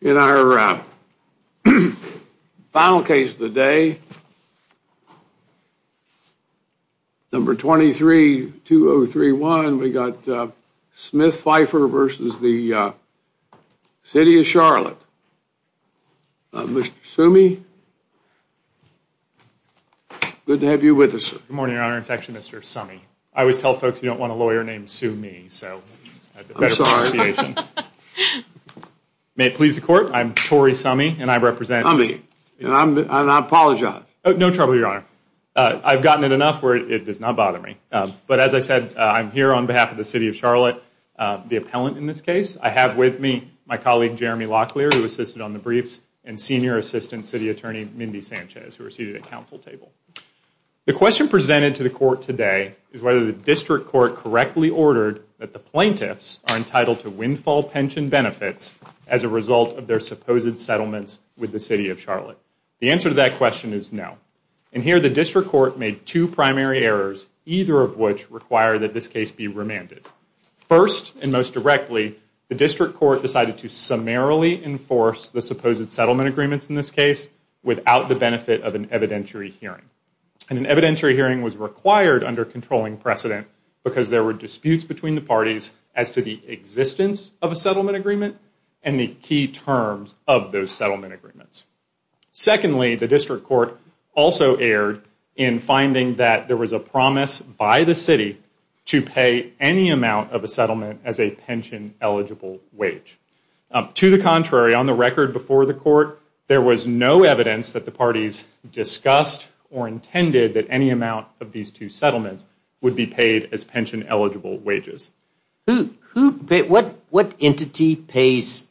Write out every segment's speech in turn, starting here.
In our final case of the day, number 23-2031, we got Smith-Phifer versus the City of Charlotte. Mr. Sumi, good to have you with us. Good morning, Your Honor. It's actually Mr. Sumi. I always tell folks you don't want a lawyer named Sumi, so I have a better appreciation. May it please the Court, I'm Torrey Sumi and I represent... Sumi, and I apologize. No trouble, Your Honor. I've gotten it enough where it does not bother me. But as I said, I'm here on behalf of the City of Charlotte, the appellant in this case. I have with me my colleague Jeremy Locklear, who assisted on the briefs, and Senior Assistant City Attorney Mindy Sanchez, who are seated at the Council table. The question presented to the Court today is whether the District Court correctly ordered that the plaintiffs are entitled to windfall pension benefits as a result of their supposed settlements with the City of Charlotte. The answer to that question is no. And here the District Court made two primary errors, either of which require that this case be remanded. First, and most directly, the District Court decided to summarily enforce the supposed settlement agreements in this case without the benefit of an evidentiary hearing. And an evidentiary hearing was required under controlling precedent because there were disputes between the parties as to the existence of a settlement agreement and the key terms of those settlement agreements. Secondly, the District Court also erred in finding that there was a promise by the City to pay any amount of a settlement as a pension-eligible wage. To the contrary, on the record before the Court, there was no evidence that the parties discussed or intended that any amount of these two settlements would be paid as pension-eligible wages. What entity pays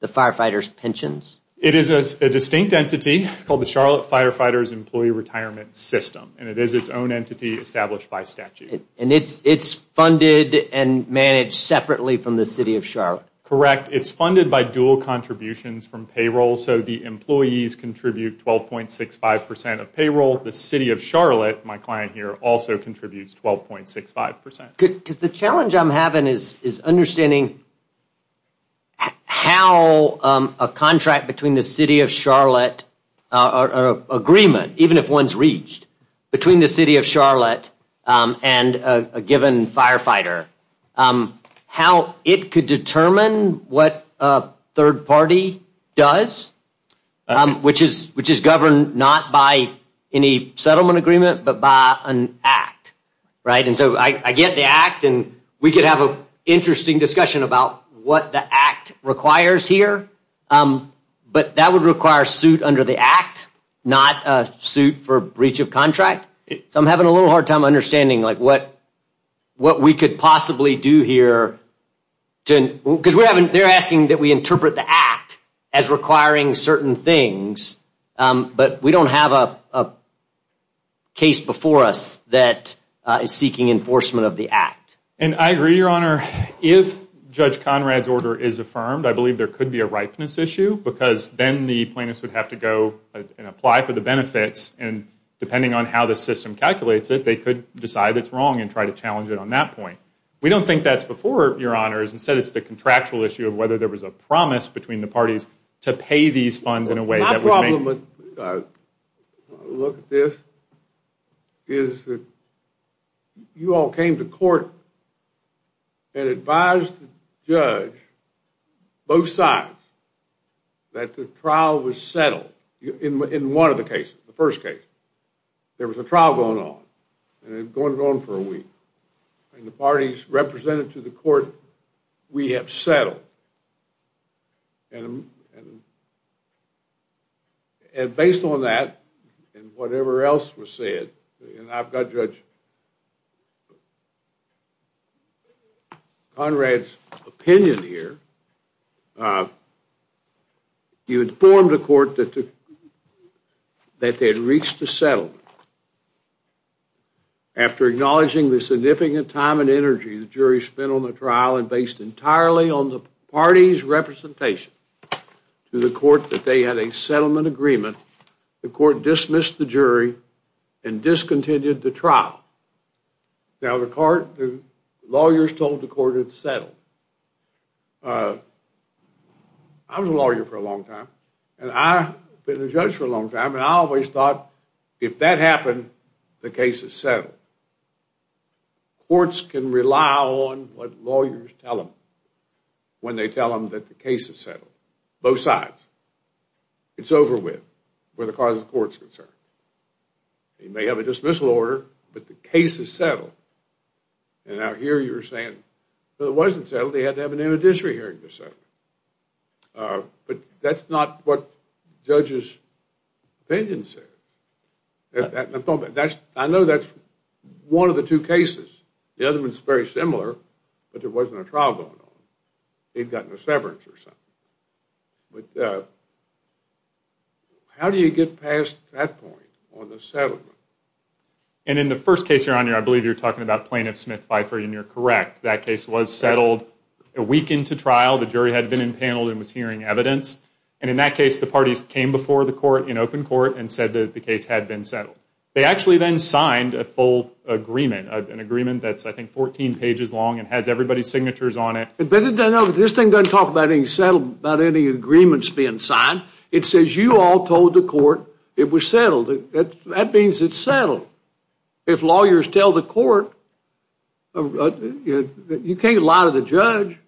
the firefighters' pensions? It is a distinct entity called the Charlotte Firefighters Employee Retirement System, and it is its own entity established by statute. And it's funded and managed separately from the City of Charlotte? Correct. It's funded by dual contributions from payroll, so the employees contribute 12.65% of payroll. The City of Charlotte, my client here, also contributes 12.65%. Because the challenge I'm having is understanding how a contract between the City of Charlotte or an agreement, even if one's reached, between the City of Charlotte and a given firefighter, how it could determine what a third party does, which is governed not by any settlement agreement, but by an Act. And so I get the Act, and we could have an interesting discussion about what the Act requires here, but that would require a suit under the Act, not a suit for breach of contract. So I'm having a little hard time understanding what we could possibly do here. Because they're asking that we interpret the Act as requiring certain things, but we don't have a case before us that is seeking enforcement of the Act. And I agree, Your Honor. If Judge Conrad's order is affirmed, I believe there could be a ripeness issue, because then the plaintiffs would have to go and apply for the benefits, and depending on how the system calculates it, they could decide it's wrong and try to challenge it on that point. We don't think that's before, Your Honors. Instead, it's the contractual issue of whether there was a promise between the parties to pay these funds in a way that would make... My problem with this is that you all came to court and advised the judge, both sides, that the trial was settled in one of the cases, the first case. There was a trial going on, and it had gone on for a week. And the parties represented to the court, we have settled. And based on that, and whatever else was said, and I've got Judge Conrad's opinion here, you informed the court that they had reached a settlement. After acknowledging the significant time and energy the jury spent on the trial and based entirely on the parties' representation to the court that they had a settlement agreement, the court dismissed the jury and discontinued the trial. Now, the lawyers told the court it's settled. I was a lawyer for a long time, and I've been a judge for a long time, and I always thought if that happened, the case is settled. Courts can rely on what lawyers tell them when they tell them that the case is settled. Both sides. It's over with, where the cause of the court is concerned. You may have a dismissal order, but the case is settled. And out here, you're saying, well, it wasn't settled. They had to have an interdisciplinary hearing to settle it. But that's not what the judge's opinion said. I know that's one of the two cases. The other one is very similar, but there wasn't a trial going on. They'd gotten a severance or something. How do you get past that point on the settlement? And in the first case you're on here, I believe you're talking about Plaintiff Smith-Pfeiffer, and you're correct. That case was settled a week into trial. The jury had been impaneled and was hearing evidence. And in that case, the parties came before the court in open court and said that the case had been settled. They actually then signed a full agreement, an agreement that's, I think, 14 pages long and has everybody's signatures on it. But this thing doesn't talk about any settlement, about any agreements being signed. It says you all told the court it was settled. That means it's settled. If lawyers tell the court, you can't lie to the judge.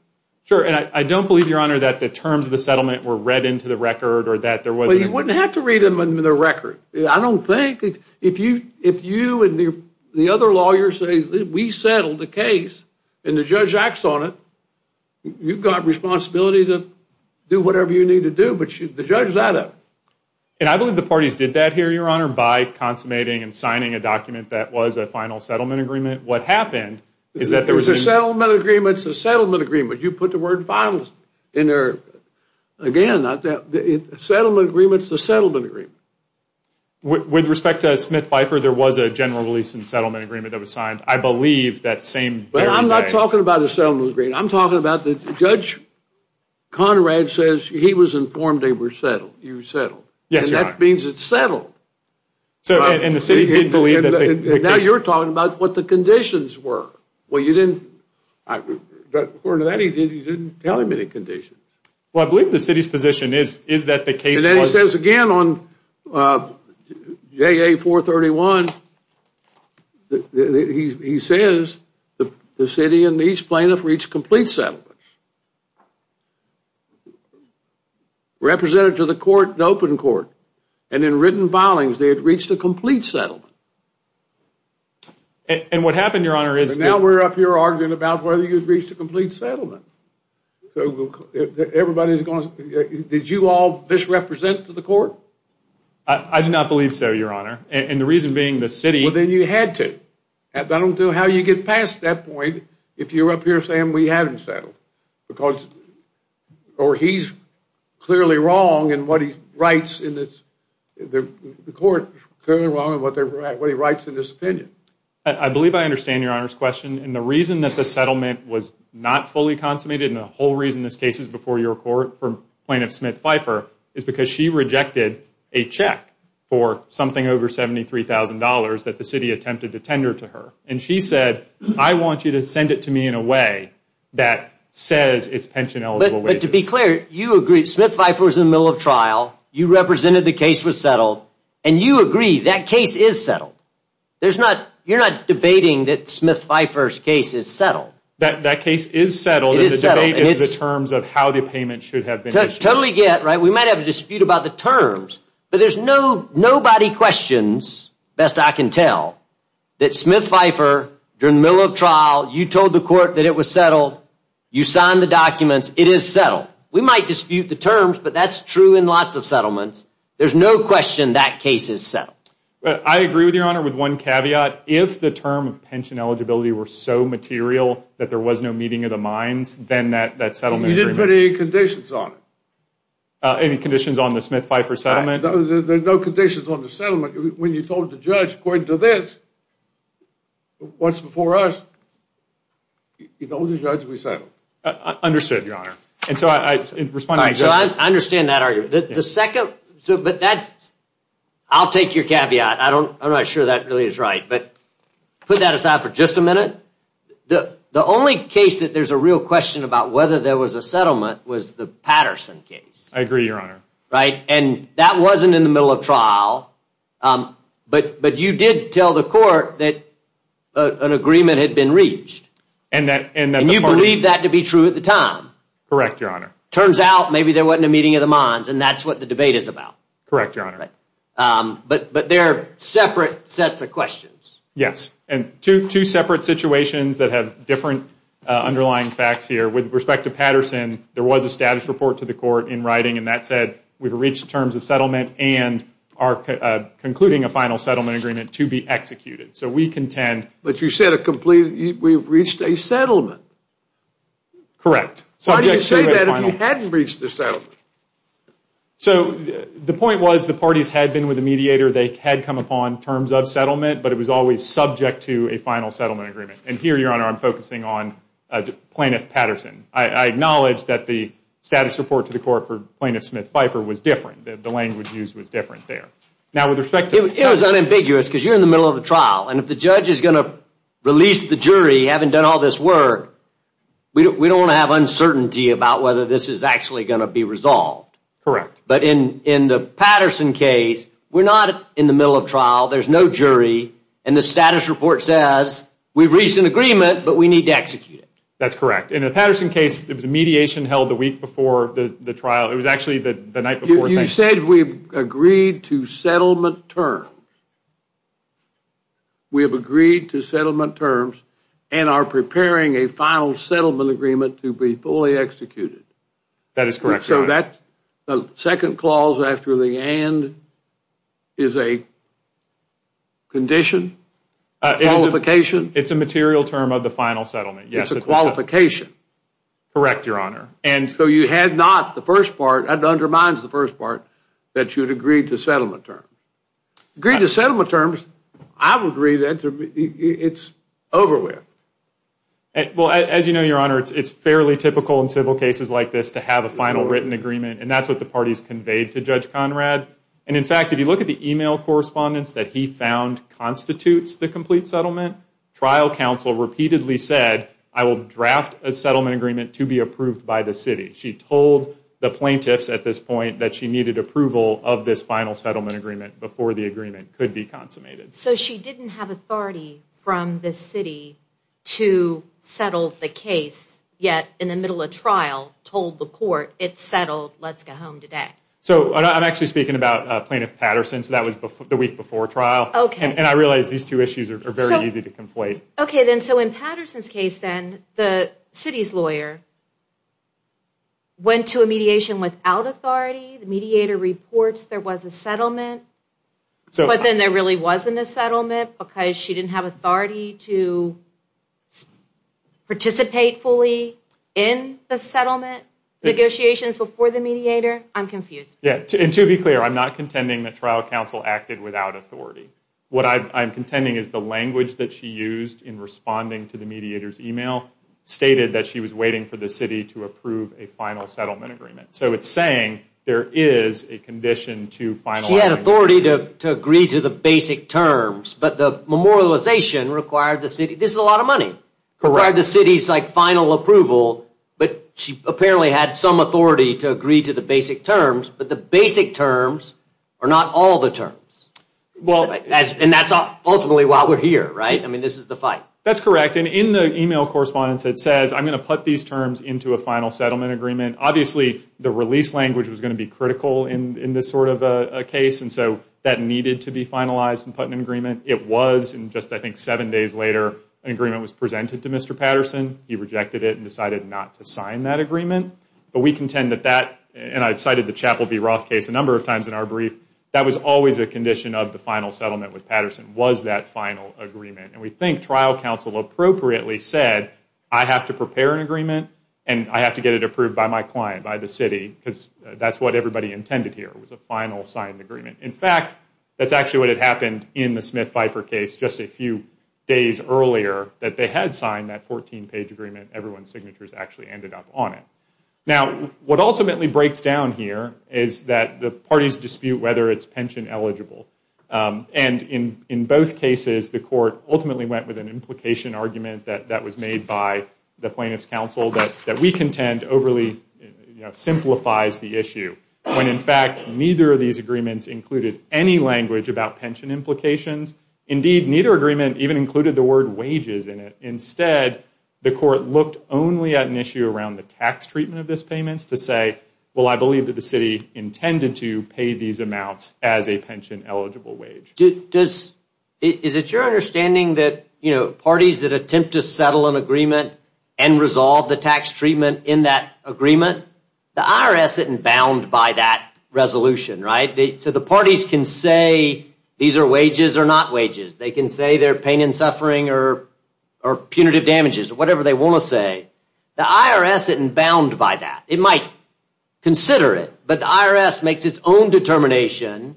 Sure, and I don't believe, Your Honor, that the terms of the settlement were read into the record or that there was an agreement. Well, you wouldn't have to read them into the record. I don't think if you and the other lawyers say we settled the case and the judge acts on it, you've got responsibility to do whatever you need to do, but the judge is out of it. And I believe the parties did that here, Your Honor, by consummating and signing a document that was a final settlement agreement. What happened is that there was a settlement agreement. It's a settlement agreement. You put the word finalist in there. Again, a settlement agreement is a settlement agreement. With respect to Smith-Bipher, there was a general release and settlement agreement that was signed. I believe that same very day. But I'm not talking about a settlement agreement. I'm talking about the judge, Conrad, says he was informed they were settled. You settled. Yes, Your Honor. And that means it's settled. And the city didn't believe that they were. Now you're talking about what the conditions were. According to that, he didn't tell him any conditions. Well, I believe the city's position is that the case was And then he says again on JA-431, he says the city and each plaintiff reached complete settlement. Represented to the court in open court. And in written filings, they had reached a complete settlement. And what happened, Your Honor, is that Now we're up here arguing about whether you've reached a complete settlement. Did you all misrepresent to the court? I do not believe so, Your Honor. And the reason being the city Well, then you had to. I don't know how you get past that point if you're up here saying we haven't settled. Or he's clearly wrong in what he writes in this opinion. I believe I understand Your Honor's question. And the reason that the settlement was not fully consummated And the whole reason this case is before your court for Plaintiff Smith-Pfeiffer Is because she rejected a check for something over $73,000 that the city attempted to tender to her. And she said, I want you to send it to me in a way that says it's pension-eligible wages. But to be clear, you agree. Smith-Pfeiffer was in the middle of trial. You represented the case was settled. And you agree that case is settled. You're not debating that Smith-Pfeiffer's case is settled. That case is settled. It is settled. And the debate is the terms of how the payment should have been issued. Totally get. We might have a dispute about the terms. But there's nobody questions, best I can tell, that Smith-Pfeiffer, during the middle of trial, You told the court that it was settled. You signed the documents. It is settled. We might dispute the terms, but that's true in lots of settlements. There's no question that case is settled. I agree with Your Honor with one caveat. If the term of pension eligibility were so material that there was no meeting of the minds, Then that settlement agreement... You didn't put any conditions on it. Any conditions on the Smith-Pfeiffer settlement? There's no conditions on the settlement. When you told the judge according to this, What's before us, You told the judge we settled. Understood, Your Honor. And so I... I understand that argument. The second... But that's... I'll take your caveat. I'm not sure that really is right. But put that aside for just a minute. The only case that there's a real question about whether there was a settlement was the Patterson case. I agree, Your Honor. Right? And that wasn't in the middle of trial. But you did tell the court that an agreement had been reached. And that... And you believed that to be true at the time. Correct, Your Honor. Turns out maybe there wasn't a meeting of the minds, And that's what the debate is about. Correct, Your Honor. But they're separate sets of questions. Yes. And two separate situations that have different underlying facts here. With respect to Patterson, There was a status report to the court in writing, And that said we've reached terms of settlement And are concluding a final settlement agreement to be executed. So we contend... But you said a complete... We've reached a settlement. Correct. Why do you say that if you hadn't reached the settlement? So the point was the parties had been with the mediator. They had come upon terms of settlement. But it was always subject to a final settlement agreement. And here, Your Honor, I'm focusing on Plaintiff Patterson. I acknowledge that the status report to the court for Plaintiff Smith-Pfeiffer was different. The language used was different there. Now, with respect to... It was unambiguous because you're in the middle of the trial. And if the judge is going to release the jury, Having done all this work, We don't want to have uncertainty about whether this is actually going to be resolved. Correct. But in the Patterson case, We're not in the middle of trial. There's no jury. And the status report says, We've reached an agreement, but we need to execute it. That's correct. In the Patterson case, It was a mediation held the week before the trial. It was actually the night before. You said we've agreed to settlement terms. We have agreed to settlement terms And are preparing a final settlement agreement to be fully executed. That is correct, Your Honor. The second clause after the and is a condition? Qualification? It's a material term of the final settlement. It's a qualification. Correct, Your Honor. And so you had not, the first part, That undermines the first part, That you had agreed to settlement terms. Agreed to settlement terms, I would agree that it's over with. Well, as you know, Your Honor, It's fairly typical in civil cases like this To have a final written agreement. And that's what the parties conveyed to Judge Conrad. And in fact, if you look at the email correspondence That he found constitutes the complete settlement, Trial counsel repeatedly said, I will draft a settlement agreement to be approved by the city. She told the plaintiffs at this point That she needed approval of this final settlement agreement Before the agreement could be consummated. So she didn't have authority from the city To settle the case, Yet in the middle of trial told the court, It's settled, let's go home today. So I'm actually speaking about Plaintiff Patterson, So that was the week before trial. Okay. And I realize these two issues are very easy to conflate. Okay, then, so in Patterson's case, then, The city's lawyer went to a mediation without authority, The mediator reports there was a settlement, But then there really wasn't a settlement Because she didn't have authority to participate fully In the settlement negotiations before the mediator. I'm confused. Yeah, and to be clear, I'm not contending that trial counsel acted without authority. What I'm contending is the language that she used In responding to the mediator's email Stated that she was waiting for the city To approve a final settlement agreement. So it's saying there is a condition To finalize. She had authority to agree to the basic terms, But the memorialization required the city, This is a lot of money, Required the city's final approval, But she apparently had some authority To agree to the basic terms, But the basic terms are not all the terms. And that's ultimately why we're here, right? I mean, this is the fight. That's correct, and in the email correspondence, It says, I'm going to put these terms Into a final settlement agreement. Obviously, the release language was going to be critical In this sort of a case, And so that needed to be finalized And put in an agreement. It was, and just I think seven days later, An agreement was presented to Mr. Patterson. He rejected it and decided not to sign that agreement. But we contend that that, And I've cited the Chapel v. Roth case A number of times in our brief, That was always a condition of the final settlement With Patterson was that final agreement. And we think trial counsel appropriately said, I have to prepare an agreement, And I have to get it approved by my client, by the city, Because that's what everybody intended here, Was a final signed agreement. In fact, that's actually what had happened In the Smith-Pfeiffer case just a few days earlier, That they had signed that 14-page agreement. Everyone's signatures actually ended up on it. Now, what ultimately breaks down here Is that the parties dispute whether it's pension eligible. And in both cases, The court ultimately went with an implication argument That was made by the plaintiff's counsel That we contend overly simplifies the issue. When, in fact, neither of these agreements Included any language about pension implications. Indeed, neither agreement even included the word wages in it. Instead, the court looked only at an issue Around the tax treatment of those payments to say, Well, I believe that the city intended to pay these amounts As a pension eligible wage. Is it your understanding that parties That attempt to settle an agreement And resolve the tax treatment in that agreement, The IRS isn't bound by that resolution, right? So the parties can say these are wages or not wages. They can say they're pain and suffering Or punitive damages or whatever they want to say. The IRS isn't bound by that. It might consider it, But the IRS makes its own determination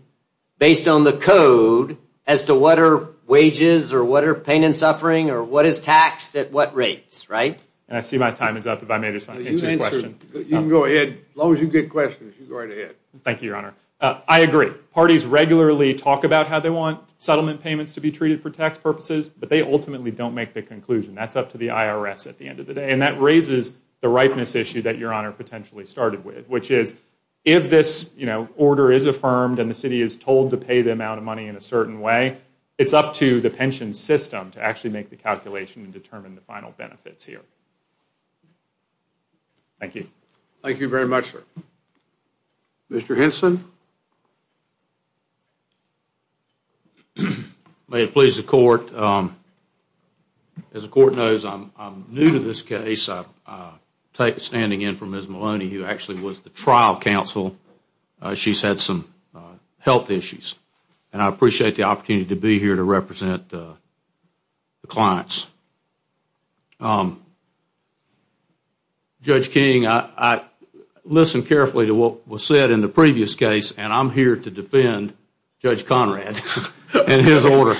Based on the code as to what are wages Or what are pain and suffering Or what is taxed at what rates, right? I see my time is up if I may just answer your question. You can go ahead. As long as you get questions, you go right ahead. Thank you, Your Honor. I agree. Parties regularly talk about how they want Settlement payments to be treated for tax purposes, But they ultimately don't make the conclusion. That's up to the IRS at the end of the day. And that raises the ripeness issue That Your Honor potentially started with, Which is if this order is affirmed And the city is told to pay the amount of money In a certain way, it's up to the pension system To actually make the calculation And determine the final benefits here. Thank you. Thank you very much, sir. Mr. Henson? May it please the Court, As the Court knows, I'm new to this case. I'm standing in for Ms. Maloney Who actually was the trial counsel. She's had some health issues. And I appreciate the opportunity to be here To represent the clients. Judge King, I listened carefully To what was said in the previous case, And I'm here to defend Judge Conrad And his order.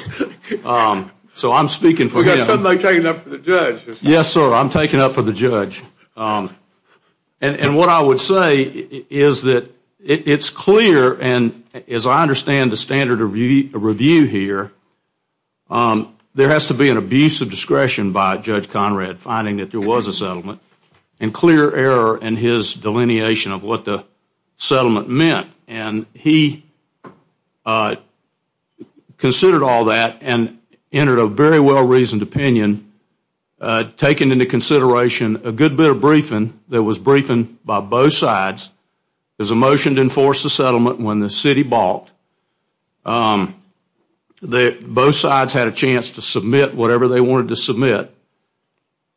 So I'm speaking for him. We've got somebody taking up for the judge. Yes, sir. I'm taking up for the judge. And what I would say is that it's clear, And as I understand the standard of review here, There has to be an abuse of discretion by Judge Conrad Finding that there was a settlement, And clear error in his delineation Of what the settlement meant. And he considered all that And entered a very well-reasoned opinion, Taking into consideration a good bit of briefing That was briefing by both sides. There was a motion to enforce the settlement When the city balked. Both sides had a chance to submit Whatever they wanted to submit.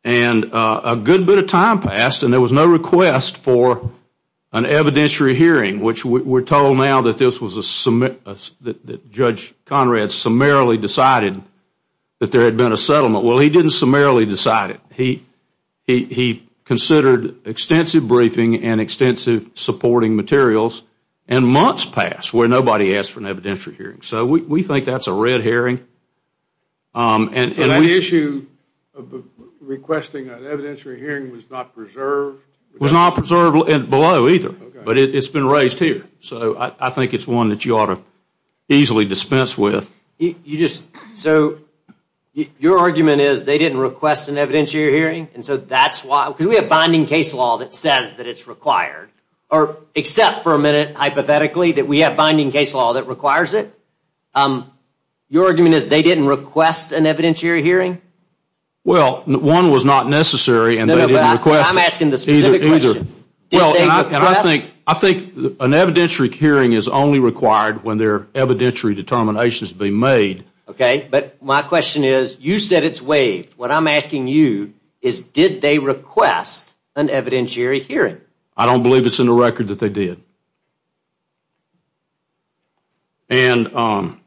And a good bit of time passed, And there was no request for an evidentiary hearing, Which we're told now that Judge Conrad Summarily decided that there had been a settlement. Well, he didn't summarily decide it. He considered extensive briefing And extensive supporting materials. And months passed where nobody asked for an evidentiary hearing. So we think that's a red herring. But that issue of requesting an evidentiary hearing Was not preserved? It was not preserved below either. But it's been raised here. So I think it's one that you ought to easily dispense with. So your argument is They didn't request an evidentiary hearing, And so that's why Because we have binding case law that says that it's required. Except for a minute, hypothetically, That we have binding case law that requires it. Your argument is they didn't request an evidentiary hearing? Well, one was not necessary, And they didn't request it. I'm asking the specific question. Did they request? I think an evidentiary hearing is only required When there are evidentiary determinations to be made. Okay, but my question is, You said it's waived. What I'm asking you is, Did they request an evidentiary hearing? I don't believe it's in the record that they did. And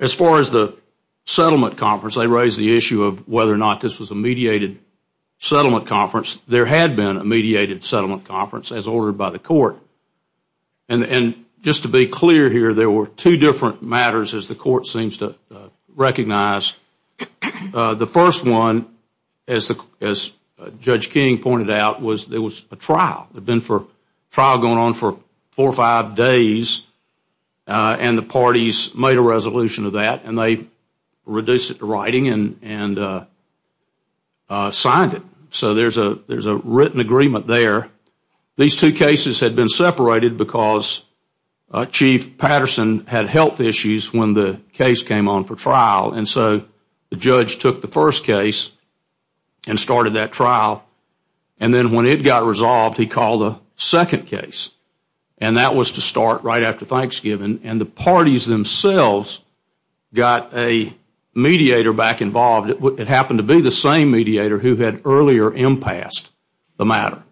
as far as the settlement conference, I raised the issue of whether or not This was a mediated settlement conference. There had been a mediated settlement conference As ordered by the court. And just to be clear here, There were two different matters, As the court seems to recognize. The first one, as Judge King pointed out, Was there was a trial. There had been a trial going on for four or five days. And the parties made a resolution to that. And they reduced it to writing and signed it. So there's a written agreement there. These two cases had been separated Because Chief Patterson had health issues When the case came on for trial. And so the judge took the first case And started that trial. And then when it got resolved, He called a second case. And that was to start right after Thanksgiving. And the parties themselves got a mediator back involved. It happened to be the same mediator Who had earlier impassed the matter.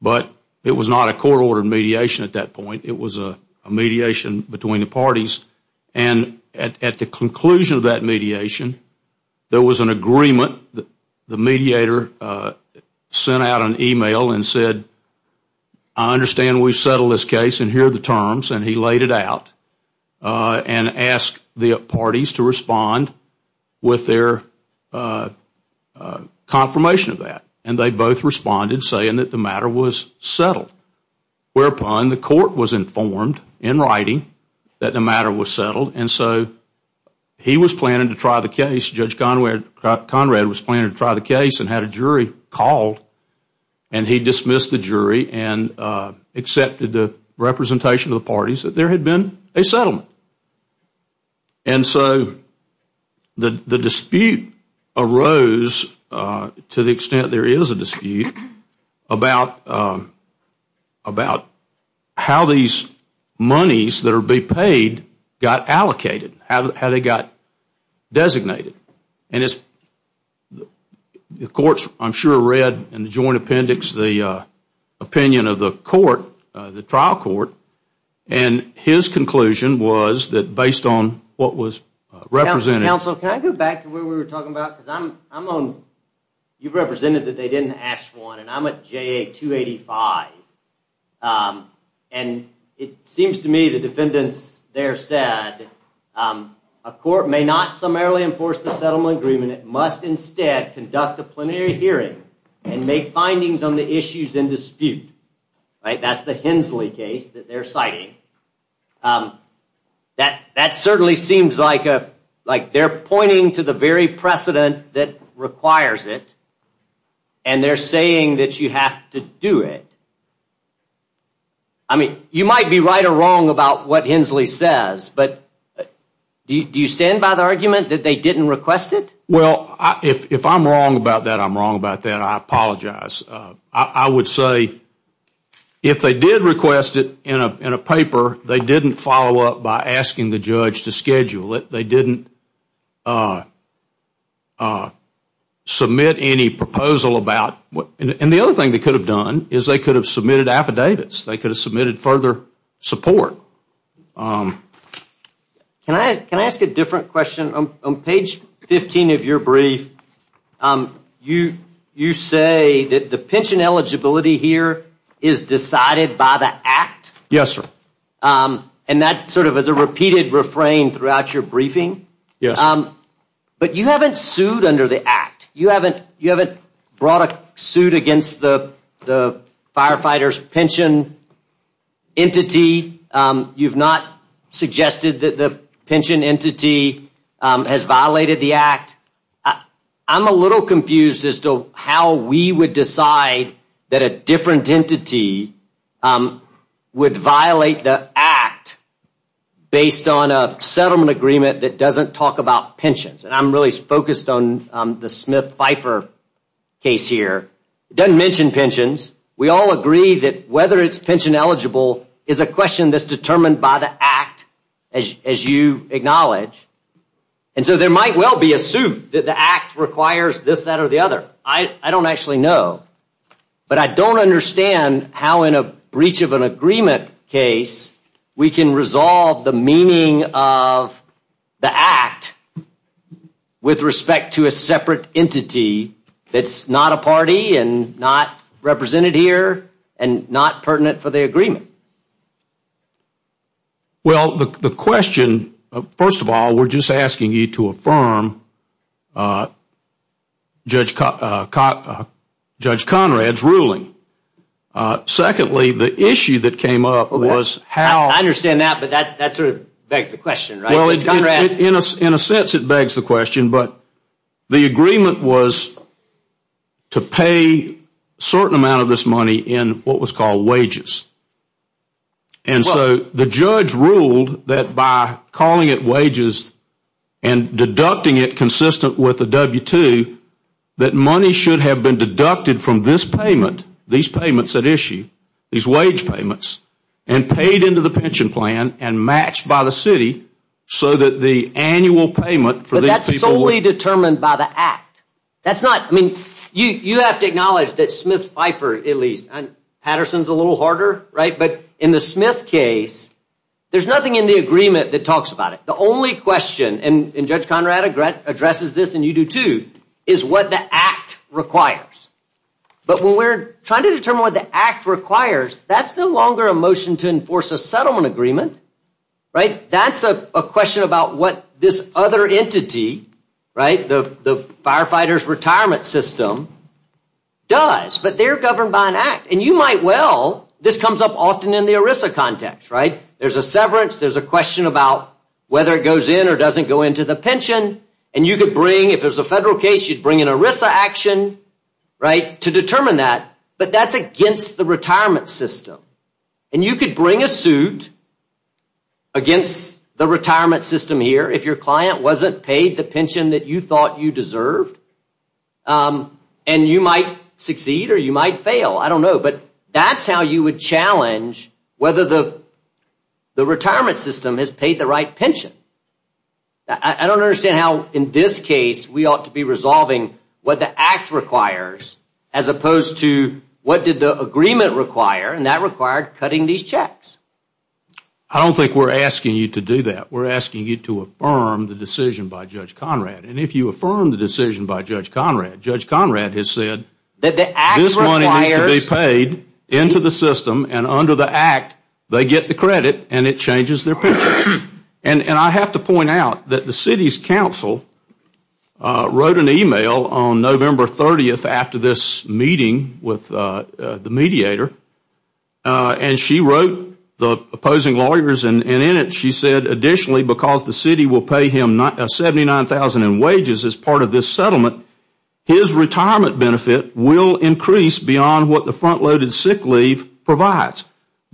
But it was not a court-ordered mediation at that point. It was a mediation between the parties. And at the conclusion of that mediation, There was an agreement. The mediator sent out an email and said, I understand we've settled this case. And here are the terms. And he laid it out. And asked the parties to respond With their confirmation of that. And they both responded saying that the matter was settled. Whereupon the court was informed in writing That the matter was settled. And so he was planning to try the case. Judge Conrad was planning to try the case And had a jury called. And he dismissed the jury And accepted the representation of the parties That there had been a settlement. And so the dispute arose To the extent there is a dispute About how these monies that are being paid Got allocated. How they got designated. And the courts I'm sure read in the joint appendix The opinion of the court, the trial court. And his conclusion was that based on what was represented Counsel, can I go back to where we were talking about? You represented that they didn't ask for one. And I'm at JA 285. And it seems to me the defendants there said A court may not summarily enforce the settlement agreement. It must instead conduct a plenary hearing And make findings on the issues in dispute. That's the Hensley case that they're citing. That certainly seems like They're pointing to the very precedent that requires it. And they're saying that you have to do it. You might be right or wrong about what Hensley says. But do you stand by the argument that they didn't request it? Well, if I'm wrong about that, I'm wrong about that. I apologize. I would say if they did request it in a paper They didn't follow up by asking the judge to schedule it. They didn't submit any proposal about And the other thing they could have done Is they could have submitted affidavits. They could have submitted further support. Can I ask a different question? On page 15 of your brief You say that the pension eligibility here Is decided by the act? Yes, sir. And that sort of is a repeated refrain throughout your briefing? Yes. But you haven't sued under the act. You haven't brought a suit against the Firefighter's pension entity. You've not suggested that the pension entity Has violated the act. I'm a little confused as to how we would decide That a different entity Would violate the act Based on a settlement agreement that doesn't talk about pensions. And I'm really focused on the Smith-Pfeiffer case here. It doesn't mention pensions. We all agree that whether it's pension eligible Is a question that's determined by the act As you acknowledge. And so there might well be a suit That the act requires this, that, or the other. I don't actually know. But I don't understand how in a breach of an agreement case We can resolve the meaning of the act With respect to a separate entity That's not a party and not represented here And not pertinent for the agreement. Well, the question First of all, we're just asking you to affirm Judge Conrad's ruling. Secondly, the issue that came up was how I understand that, but that sort of begs the question, right? In a sense, it begs the question. But the agreement was To pay a certain amount of this money In what was called wages. And so the judge ruled that by calling it wages And deducting it consistent with the W-2 That money should have been deducted from this payment These payments at issue, these wage payments And paid into the pension plan And matched by the city So that the annual payment for these people But that's solely determined by the act. That's not, I mean, you have to acknowledge That Smith Pfeiffer, at least Patterson's a little harder, right? But in the Smith case There's nothing in the agreement that talks about it. The only question, and Judge Conrad addresses this And you do too, is what the act requires. But when we're trying to determine what the act requires That's no longer a motion to enforce a settlement agreement. That's a question about what this other entity The firefighter's retirement system does. But they're governed by an act. And you might well, this comes up often in the ERISA context. There's a severance, there's a question about Whether it goes in or doesn't go into the pension And you could bring, if there's a federal case You'd bring an ERISA action to determine that. But that's against the retirement system. And you could bring a suit Against the retirement system here If your client wasn't paid the pension That you thought you deserved. And you might succeed or you might fail, I don't know. But that's how you would challenge Whether the retirement system has paid the right pension. I don't understand how in this case We ought to be resolving what the act requires As opposed to what did the agreement require And that required cutting these checks. I don't think we're asking you to do that. We're asking you to affirm the decision by Judge Conrad. And if you affirm the decision by Judge Conrad Judge Conrad has said This money needs to be paid into the system And under the act they get the credit And it changes their pension. And I have to point out that the city's council Wrote an email on November 30th After this meeting with the mediator And she wrote the opposing lawyers And in it she said additionally Because the city will pay him $79,000 in wages As part of this settlement His retirement benefit will increase Beyond what the front-loaded sick leave provides.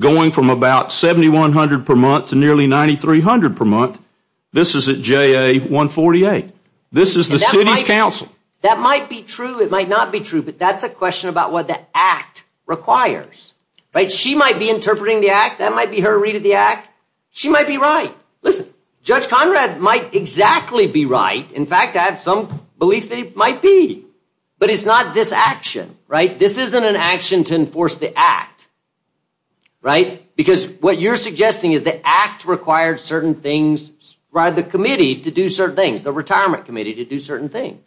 Going from about $7,100 per month To nearly $9,300 per month This is at JA-148. This is the city's council. That might be true, it might not be true But that's a question about what the act requires. She might be interpreting the act That might be her read of the act She might be right. Listen, Judge Conrad might exactly be right In fact I have some belief that he might be. But it's not this action, right? This isn't an action to enforce the act. Right? Because what you're suggesting is the act Required certain things by the committee To do certain things. The retirement committee to do certain things.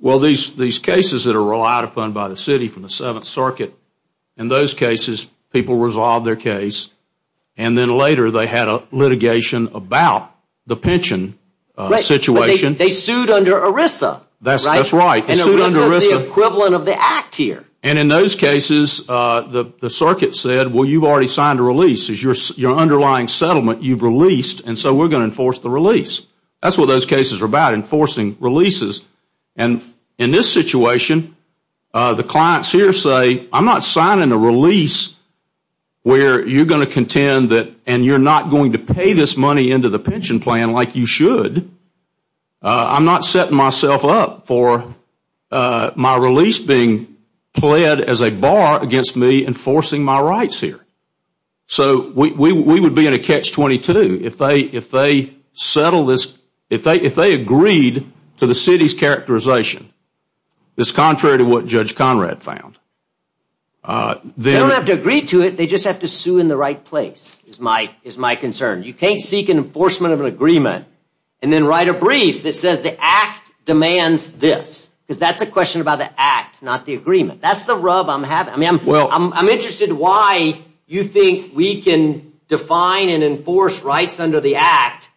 Well these cases that are relied upon by the city From the 7th Circuit In those cases people resolve their case And then later they had a litigation About the pension situation. They sued under ERISA. That's right. And ERISA is the equivalent of the act here. And in those cases the circuit said Well you've already signed a release Your underlying settlement you've released And so we're going to enforce the release. That's what those cases are about, enforcing releases. And in this situation the clients here say I'm not signing a release Where you're going to contend that And you're not going to pay this money Into the pension plan like you should. I'm not setting myself up for My release being pled as a bar Against me enforcing my rights here. So we would be in a catch-22 If they settled this If they agreed to the city's characterization That's contrary to what Judge Conrad found. They don't have to agree to it They just have to sue in the right place Is my concern. You can't seek enforcement of an agreement And then write a brief that says The act demands this. Because that's a question about the act Not the agreement. That's the rub I'm having. I'm interested in why you think we can Define and enforce rights under the act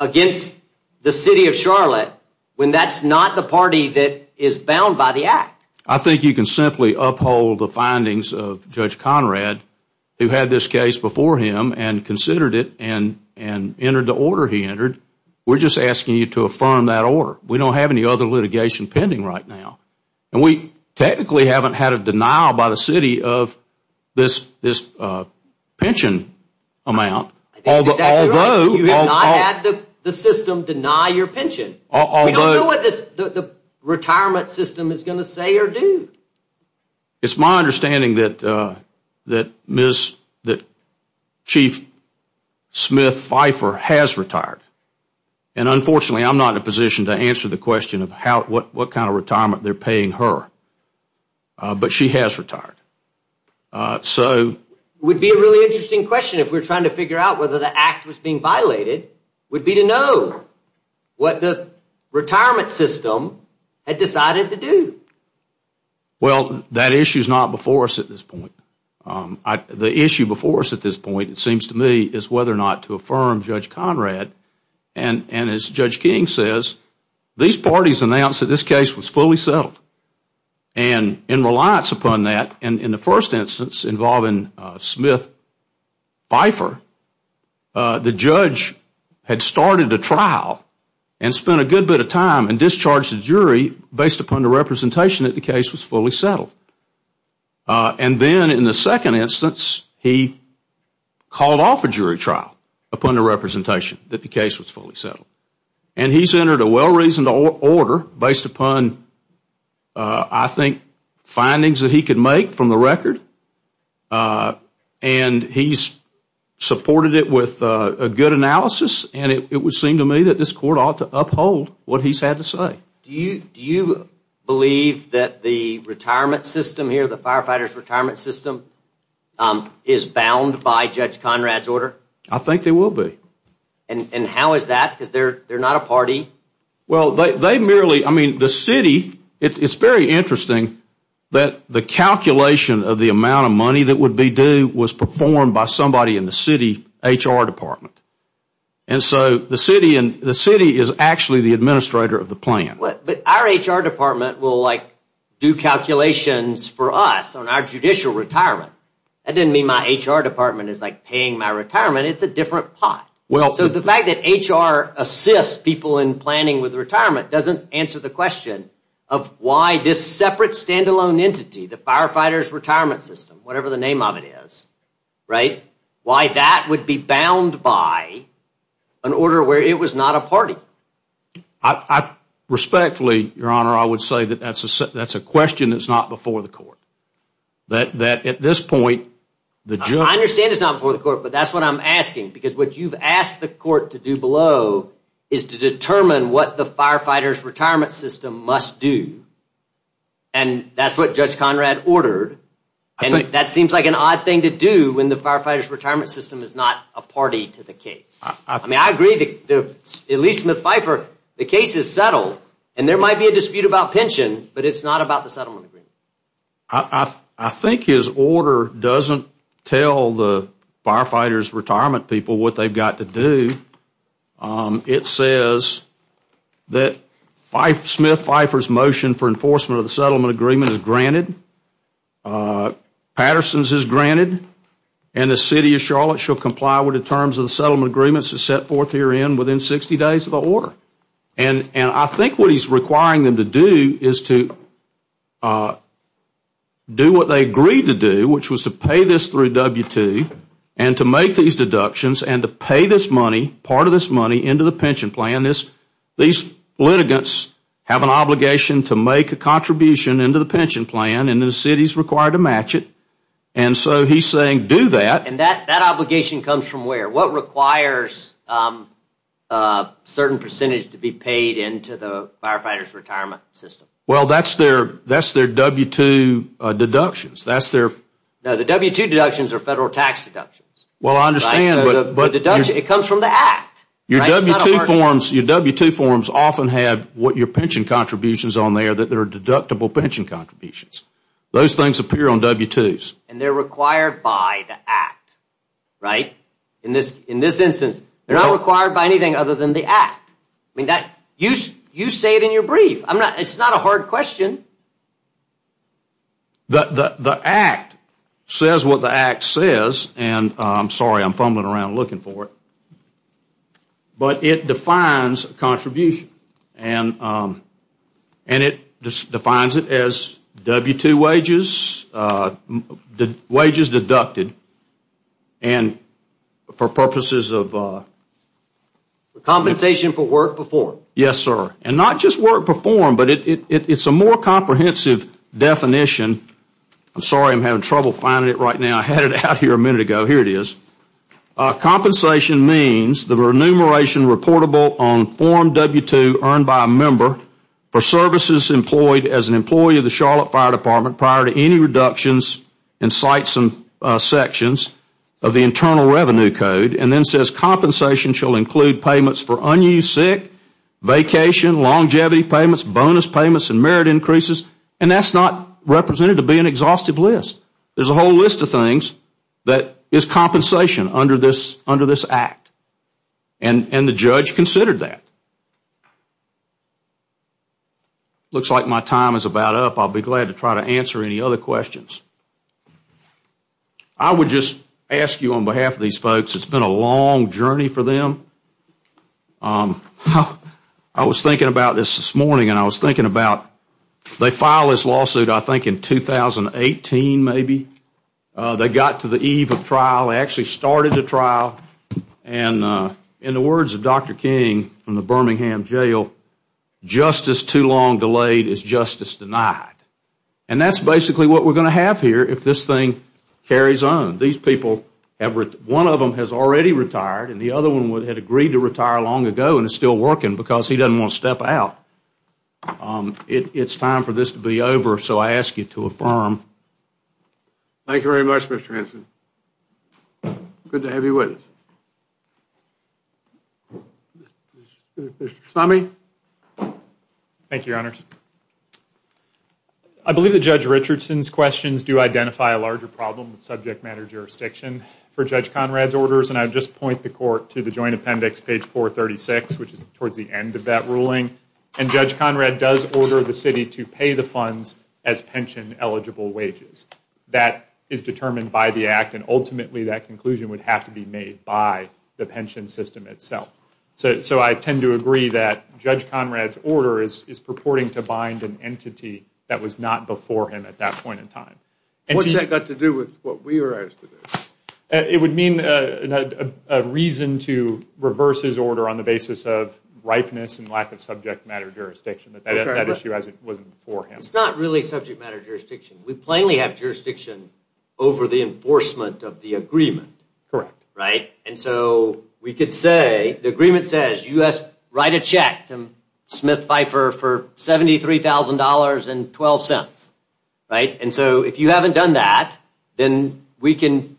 Against the city of Charlotte When that's not the party that is bound by the act. I think you can simply uphold the findings of Judge Conrad Who had this case before him And considered it and entered the order he entered We're just asking you to affirm that order. We don't have any other litigation pending right now. And we technically haven't had a denial by the city Of this pension amount Although You have not had the system deny your pension. We don't know what the retirement system Is going to say or do. It's my understanding that Chief Smith Pfeiffer has retired. And unfortunately I'm not in a position to answer the question Of what kind of retirement they're paying her. But she has retired. It would be a really interesting question If we were trying to figure out Whether the act was being violated Would be to know What the retirement system Had decided to do. Well, that issue is not before us at this point. The issue before us at this point It seems to me Is whether or not to affirm Judge Conrad And as Judge King says These parties announced that this case was fully settled. And in reliance upon that In the first instance involving Smith Pfeiffer And spent a good bit of time And discharged the jury Based upon the representation That the case was fully settled. And then in the second instance He called off a jury trial Upon the representation That the case was fully settled. And he's entered a well-reasoned order Based upon I think Findings that he could make from the record. And he's supported it with a good analysis And it would seem to me That this court ought to uphold What he's had to say. Do you believe That the retirement system here The firefighter's retirement system Is bound by Judge Conrad's order? I think they will be. And how is that? Because they're not a party. Well, they merely I mean, the city It's very interesting That the calculation of the amount of money That would be due Was performed by somebody in the city HR department. And so the city The city is actually The administrator of the plan. But our HR department Will, like, do calculations for us On our judicial retirement. That didn't mean my HR department Is, like, paying my retirement. It's a different pot. So the fact that HR assists people In planning with retirement Doesn't answer the question Of why this separate stand-alone entity The firefighter's retirement system Whatever the name of it is Right? Why that would be bound by An order where it was not a party. Respectfully, your honor I would say that that's a question That's not before the court. That at this point I understand it's not before the court But that's what I'm asking Because what you've asked the court to do below Is to determine what the Firefighter's retirement system must do. And that's what Judge Conrad ordered. And that seems like an odd thing to do When the firefighter's retirement system Is not a party to the case. I mean, I agree that At least Smith-Pfeiffer, the case is settled And there might be a dispute about pension But it's not about the settlement agreement. I think his order doesn't tell The firefighter's retirement people What they've got to do. It says that Smith-Pfeiffer's motion For enforcement of the settlement agreement Is granted. Patterson's is granted. And the city of Charlotte shall comply With the terms of the settlement agreements That's set forth herein Within 60 days of the order. And I think what he's requiring them to do Is to do what they agreed to do Which was to pay this through W-2 And to make these deductions And to pay this money Part of this money Into the pension plan. These litigants have an obligation To make a contribution into the pension plan And the city's required to match it. And so he's saying do that. And that obligation comes from where? What requires a certain percentage To be paid into the firefighter's retirement system? Well, that's their W-2 deductions. That's their... No, the W-2 deductions are federal tax deductions. Well, I understand, but... The deduction, it comes from the act. Your W-2 forms often have What your pension contributions on there That are deductible pension contributions. Those things appear on W-2s. And they're required by the act, right? In this instance, They're not required by anything other than the act. I mean, you say it in your brief. It's not a hard question. The act says what the act says And I'm sorry, I'm fumbling around looking for it. But it defines a contribution. And it defines it as W-2 wages, Wages deducted. And for purposes of... Compensation for work performed. Yes, sir. And not just work performed, But it's a more comprehensive definition. I'm sorry, I'm having trouble finding it right now. I had it out here a minute ago. Here it is. Compensation means The remuneration reportable on form W-2 Earned by a member For services employed As an employee of the Charlotte Fire Department Prior to any reductions in sites and sections Of the Internal Revenue Code. And then says compensation shall include payments For unused sick, vacation, longevity payments, Bonus payments, and merit increases. And that's not represented to be an exhaustive list. There's a whole list of things That is compensation under this act. And the judge considered that. Looks like my time is about up. I'll be glad to try to answer any other questions. I would just ask you on behalf of these folks, It's been a long journey for them. I was thinking about this this morning And I was thinking about They filed this lawsuit I think in 2018 maybe. They got to the eve of trial. They actually started the trial. And in the words of Dr. King from the Birmingham jail, Justice too long delayed is justice denied. And that's basically what we're going to have here If this thing carries on. One of them has already retired And the other one had agreed to retire long ago And is still working Because he doesn't want to step out. It's time for this to be over So I ask you to affirm. Thank you very much, Mr. Hanson. Good to have you with us. Mr. Somme. Thank you, your honors. I believe that Judge Richardson's questions Do identify a larger problem with subject matter jurisdiction For Judge Conrad's orders And I would just point the court to the joint appendix, page 436, Which is towards the end of that ruling. And Judge Conrad does order the city to pay the funds As pension eligible wages. That is determined by the act And ultimately that conclusion would have to be made By the pension system itself. So I tend to agree that Judge Conrad's order Is purporting to bind an entity That was not before him at that point in time. What's that got to do with what we were asked to do? It would mean a reason to reverse his order On the basis of ripeness and lack of subject matter jurisdiction. That issue wasn't before him. It's not really subject matter jurisdiction. We plainly have jurisdiction Over the enforcement of the agreement. Correct. Right? And so we could say, the agreement says You write a check to Smith Pfeiffer For $73,000.12. Right? And so if you haven't done that Then we can,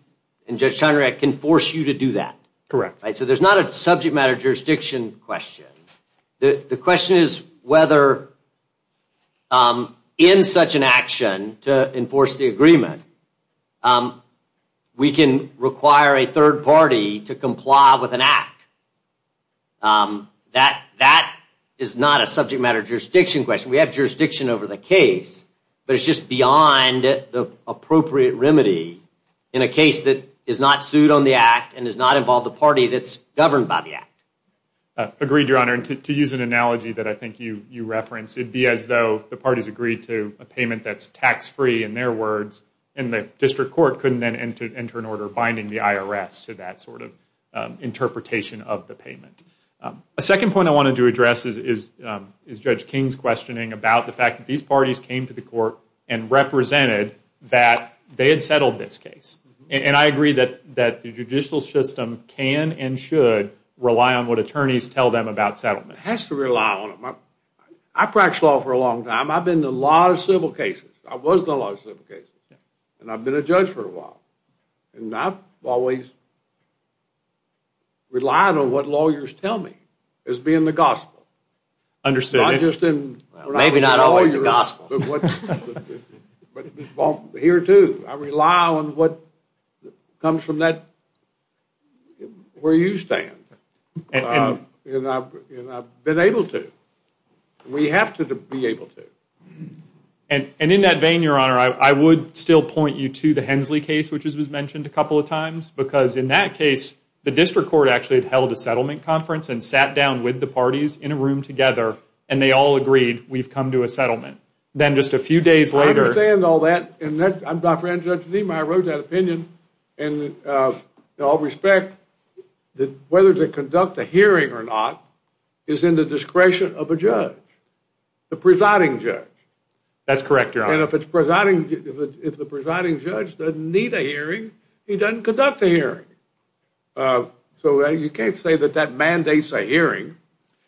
and Judge Conrad can force you to do that. Correct. So there's not a subject matter jurisdiction question. The question is whether In such an action To enforce the agreement We can require a third party To comply with an act. That is not a subject matter jurisdiction question. We have jurisdiction over the case. But it's just beyond the appropriate remedy In a case that is not sued on the act And does not involve the party that's governed by the act. Agreed, Your Honor. And to use an analogy that I think you referenced It would be as though the parties agreed to A payment that's tax-free, in their words And the district court couldn't then enter an order Binding the IRS to that sort of Interpretation of the payment. A second point I wanted to address Is Judge King's questioning About the fact that these parties came to the court And represented that they had settled this case. And I agree that the judicial system Can and should rely on what Attorneys tell them about settlement. It has to rely on it. I practiced law for a long time. I've been in a lot of civil cases. I was in a lot of civil cases. And I've been a judge for a while. And I've always Relied on what lawyers tell me As being the gospel. Understood. Maybe not always the gospel. But here too, I rely on what Comes from that Where you stand. And I've been able to. We have to be able to. And in that vein, your honor, I would still point you to the Hensley case Which was mentioned a couple of times Because in that case, the district court Actually held a settlement conference And sat down with the parties in a room together And they all agreed, we've come to a settlement. Then just a few days later I understand all that. I wrote that opinion And in all respect Whether to conduct a hearing or not Is in the discretion of a judge. The presiding judge. That's correct, your honor. And if the presiding judge doesn't need a hearing He doesn't conduct a hearing. So you can't say that that mandates a hearing.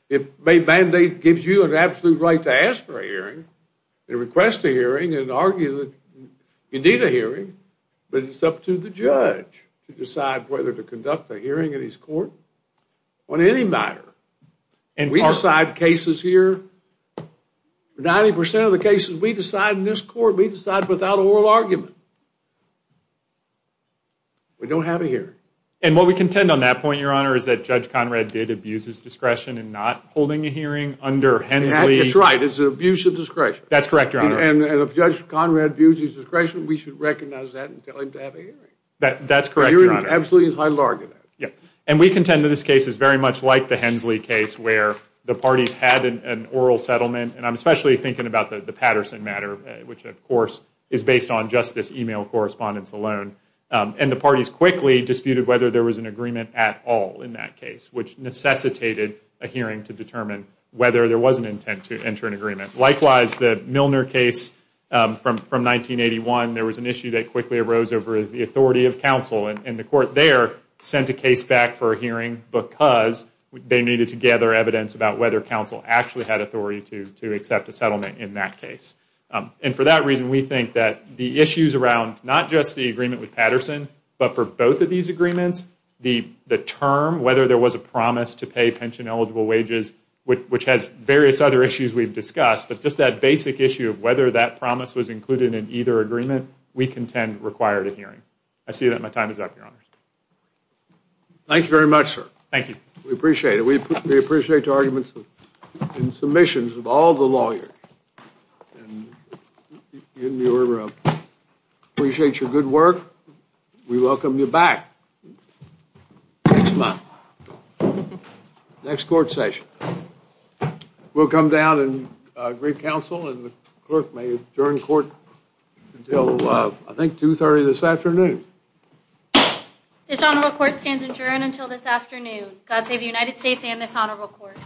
It may mandate, gives you an absolute right To ask for a hearing And request a hearing And argue that you need a hearing But it's up to the judge To decide whether to conduct a hearing in his court On any matter. And we decide cases here 90% of the cases we decide in this court We decide without oral argument. We don't have a hearing. And what we contend on that point, your honor Is that Judge Conrad did abuse his discretion In not holding a hearing under Hensley. That's right, it's an abuse of discretion. That's correct, your honor. And if Judge Conrad abused his discretion We should recognize that and tell him to have a hearing. That's correct, your honor. A hearing is absolutely entitled to argument. And we contend that this case Is very much like the Hensley case Where the parties had an oral settlement And I'm especially thinking about the Patterson matter Which of course is based on Just this email correspondence alone. And the parties quickly disputed Whether there was an agreement at all in that case Which necessitated a hearing to determine Whether there was an intent to enter an agreement. Likewise, the Milner case from 1981 There was an issue that quickly arose Over the authority of counsel. And the court there sent a case back for a hearing Because they needed to gather evidence About whether counsel actually had authority To accept a settlement in that case. And for that reason we think that The issues around not just the agreement with Patterson But for both of these agreements The term, whether there was a promise To pay pension eligible wages Which has various other issues we've discussed But just that basic issue of whether that promise Was included in either agreement We contend required a hearing. I see that my time is up, Your Honor. Thank you very much, sir. We appreciate it. We appreciate the arguments And submissions of all the lawyers. We appreciate your good work. We welcome you back. Thank you, ma'am. Next court session. We'll come down and greet counsel And the clerk may adjourn court Until I think 2.30 this afternoon. This honorable court stands adjourned until this afternoon. God save the United States and this honorable court.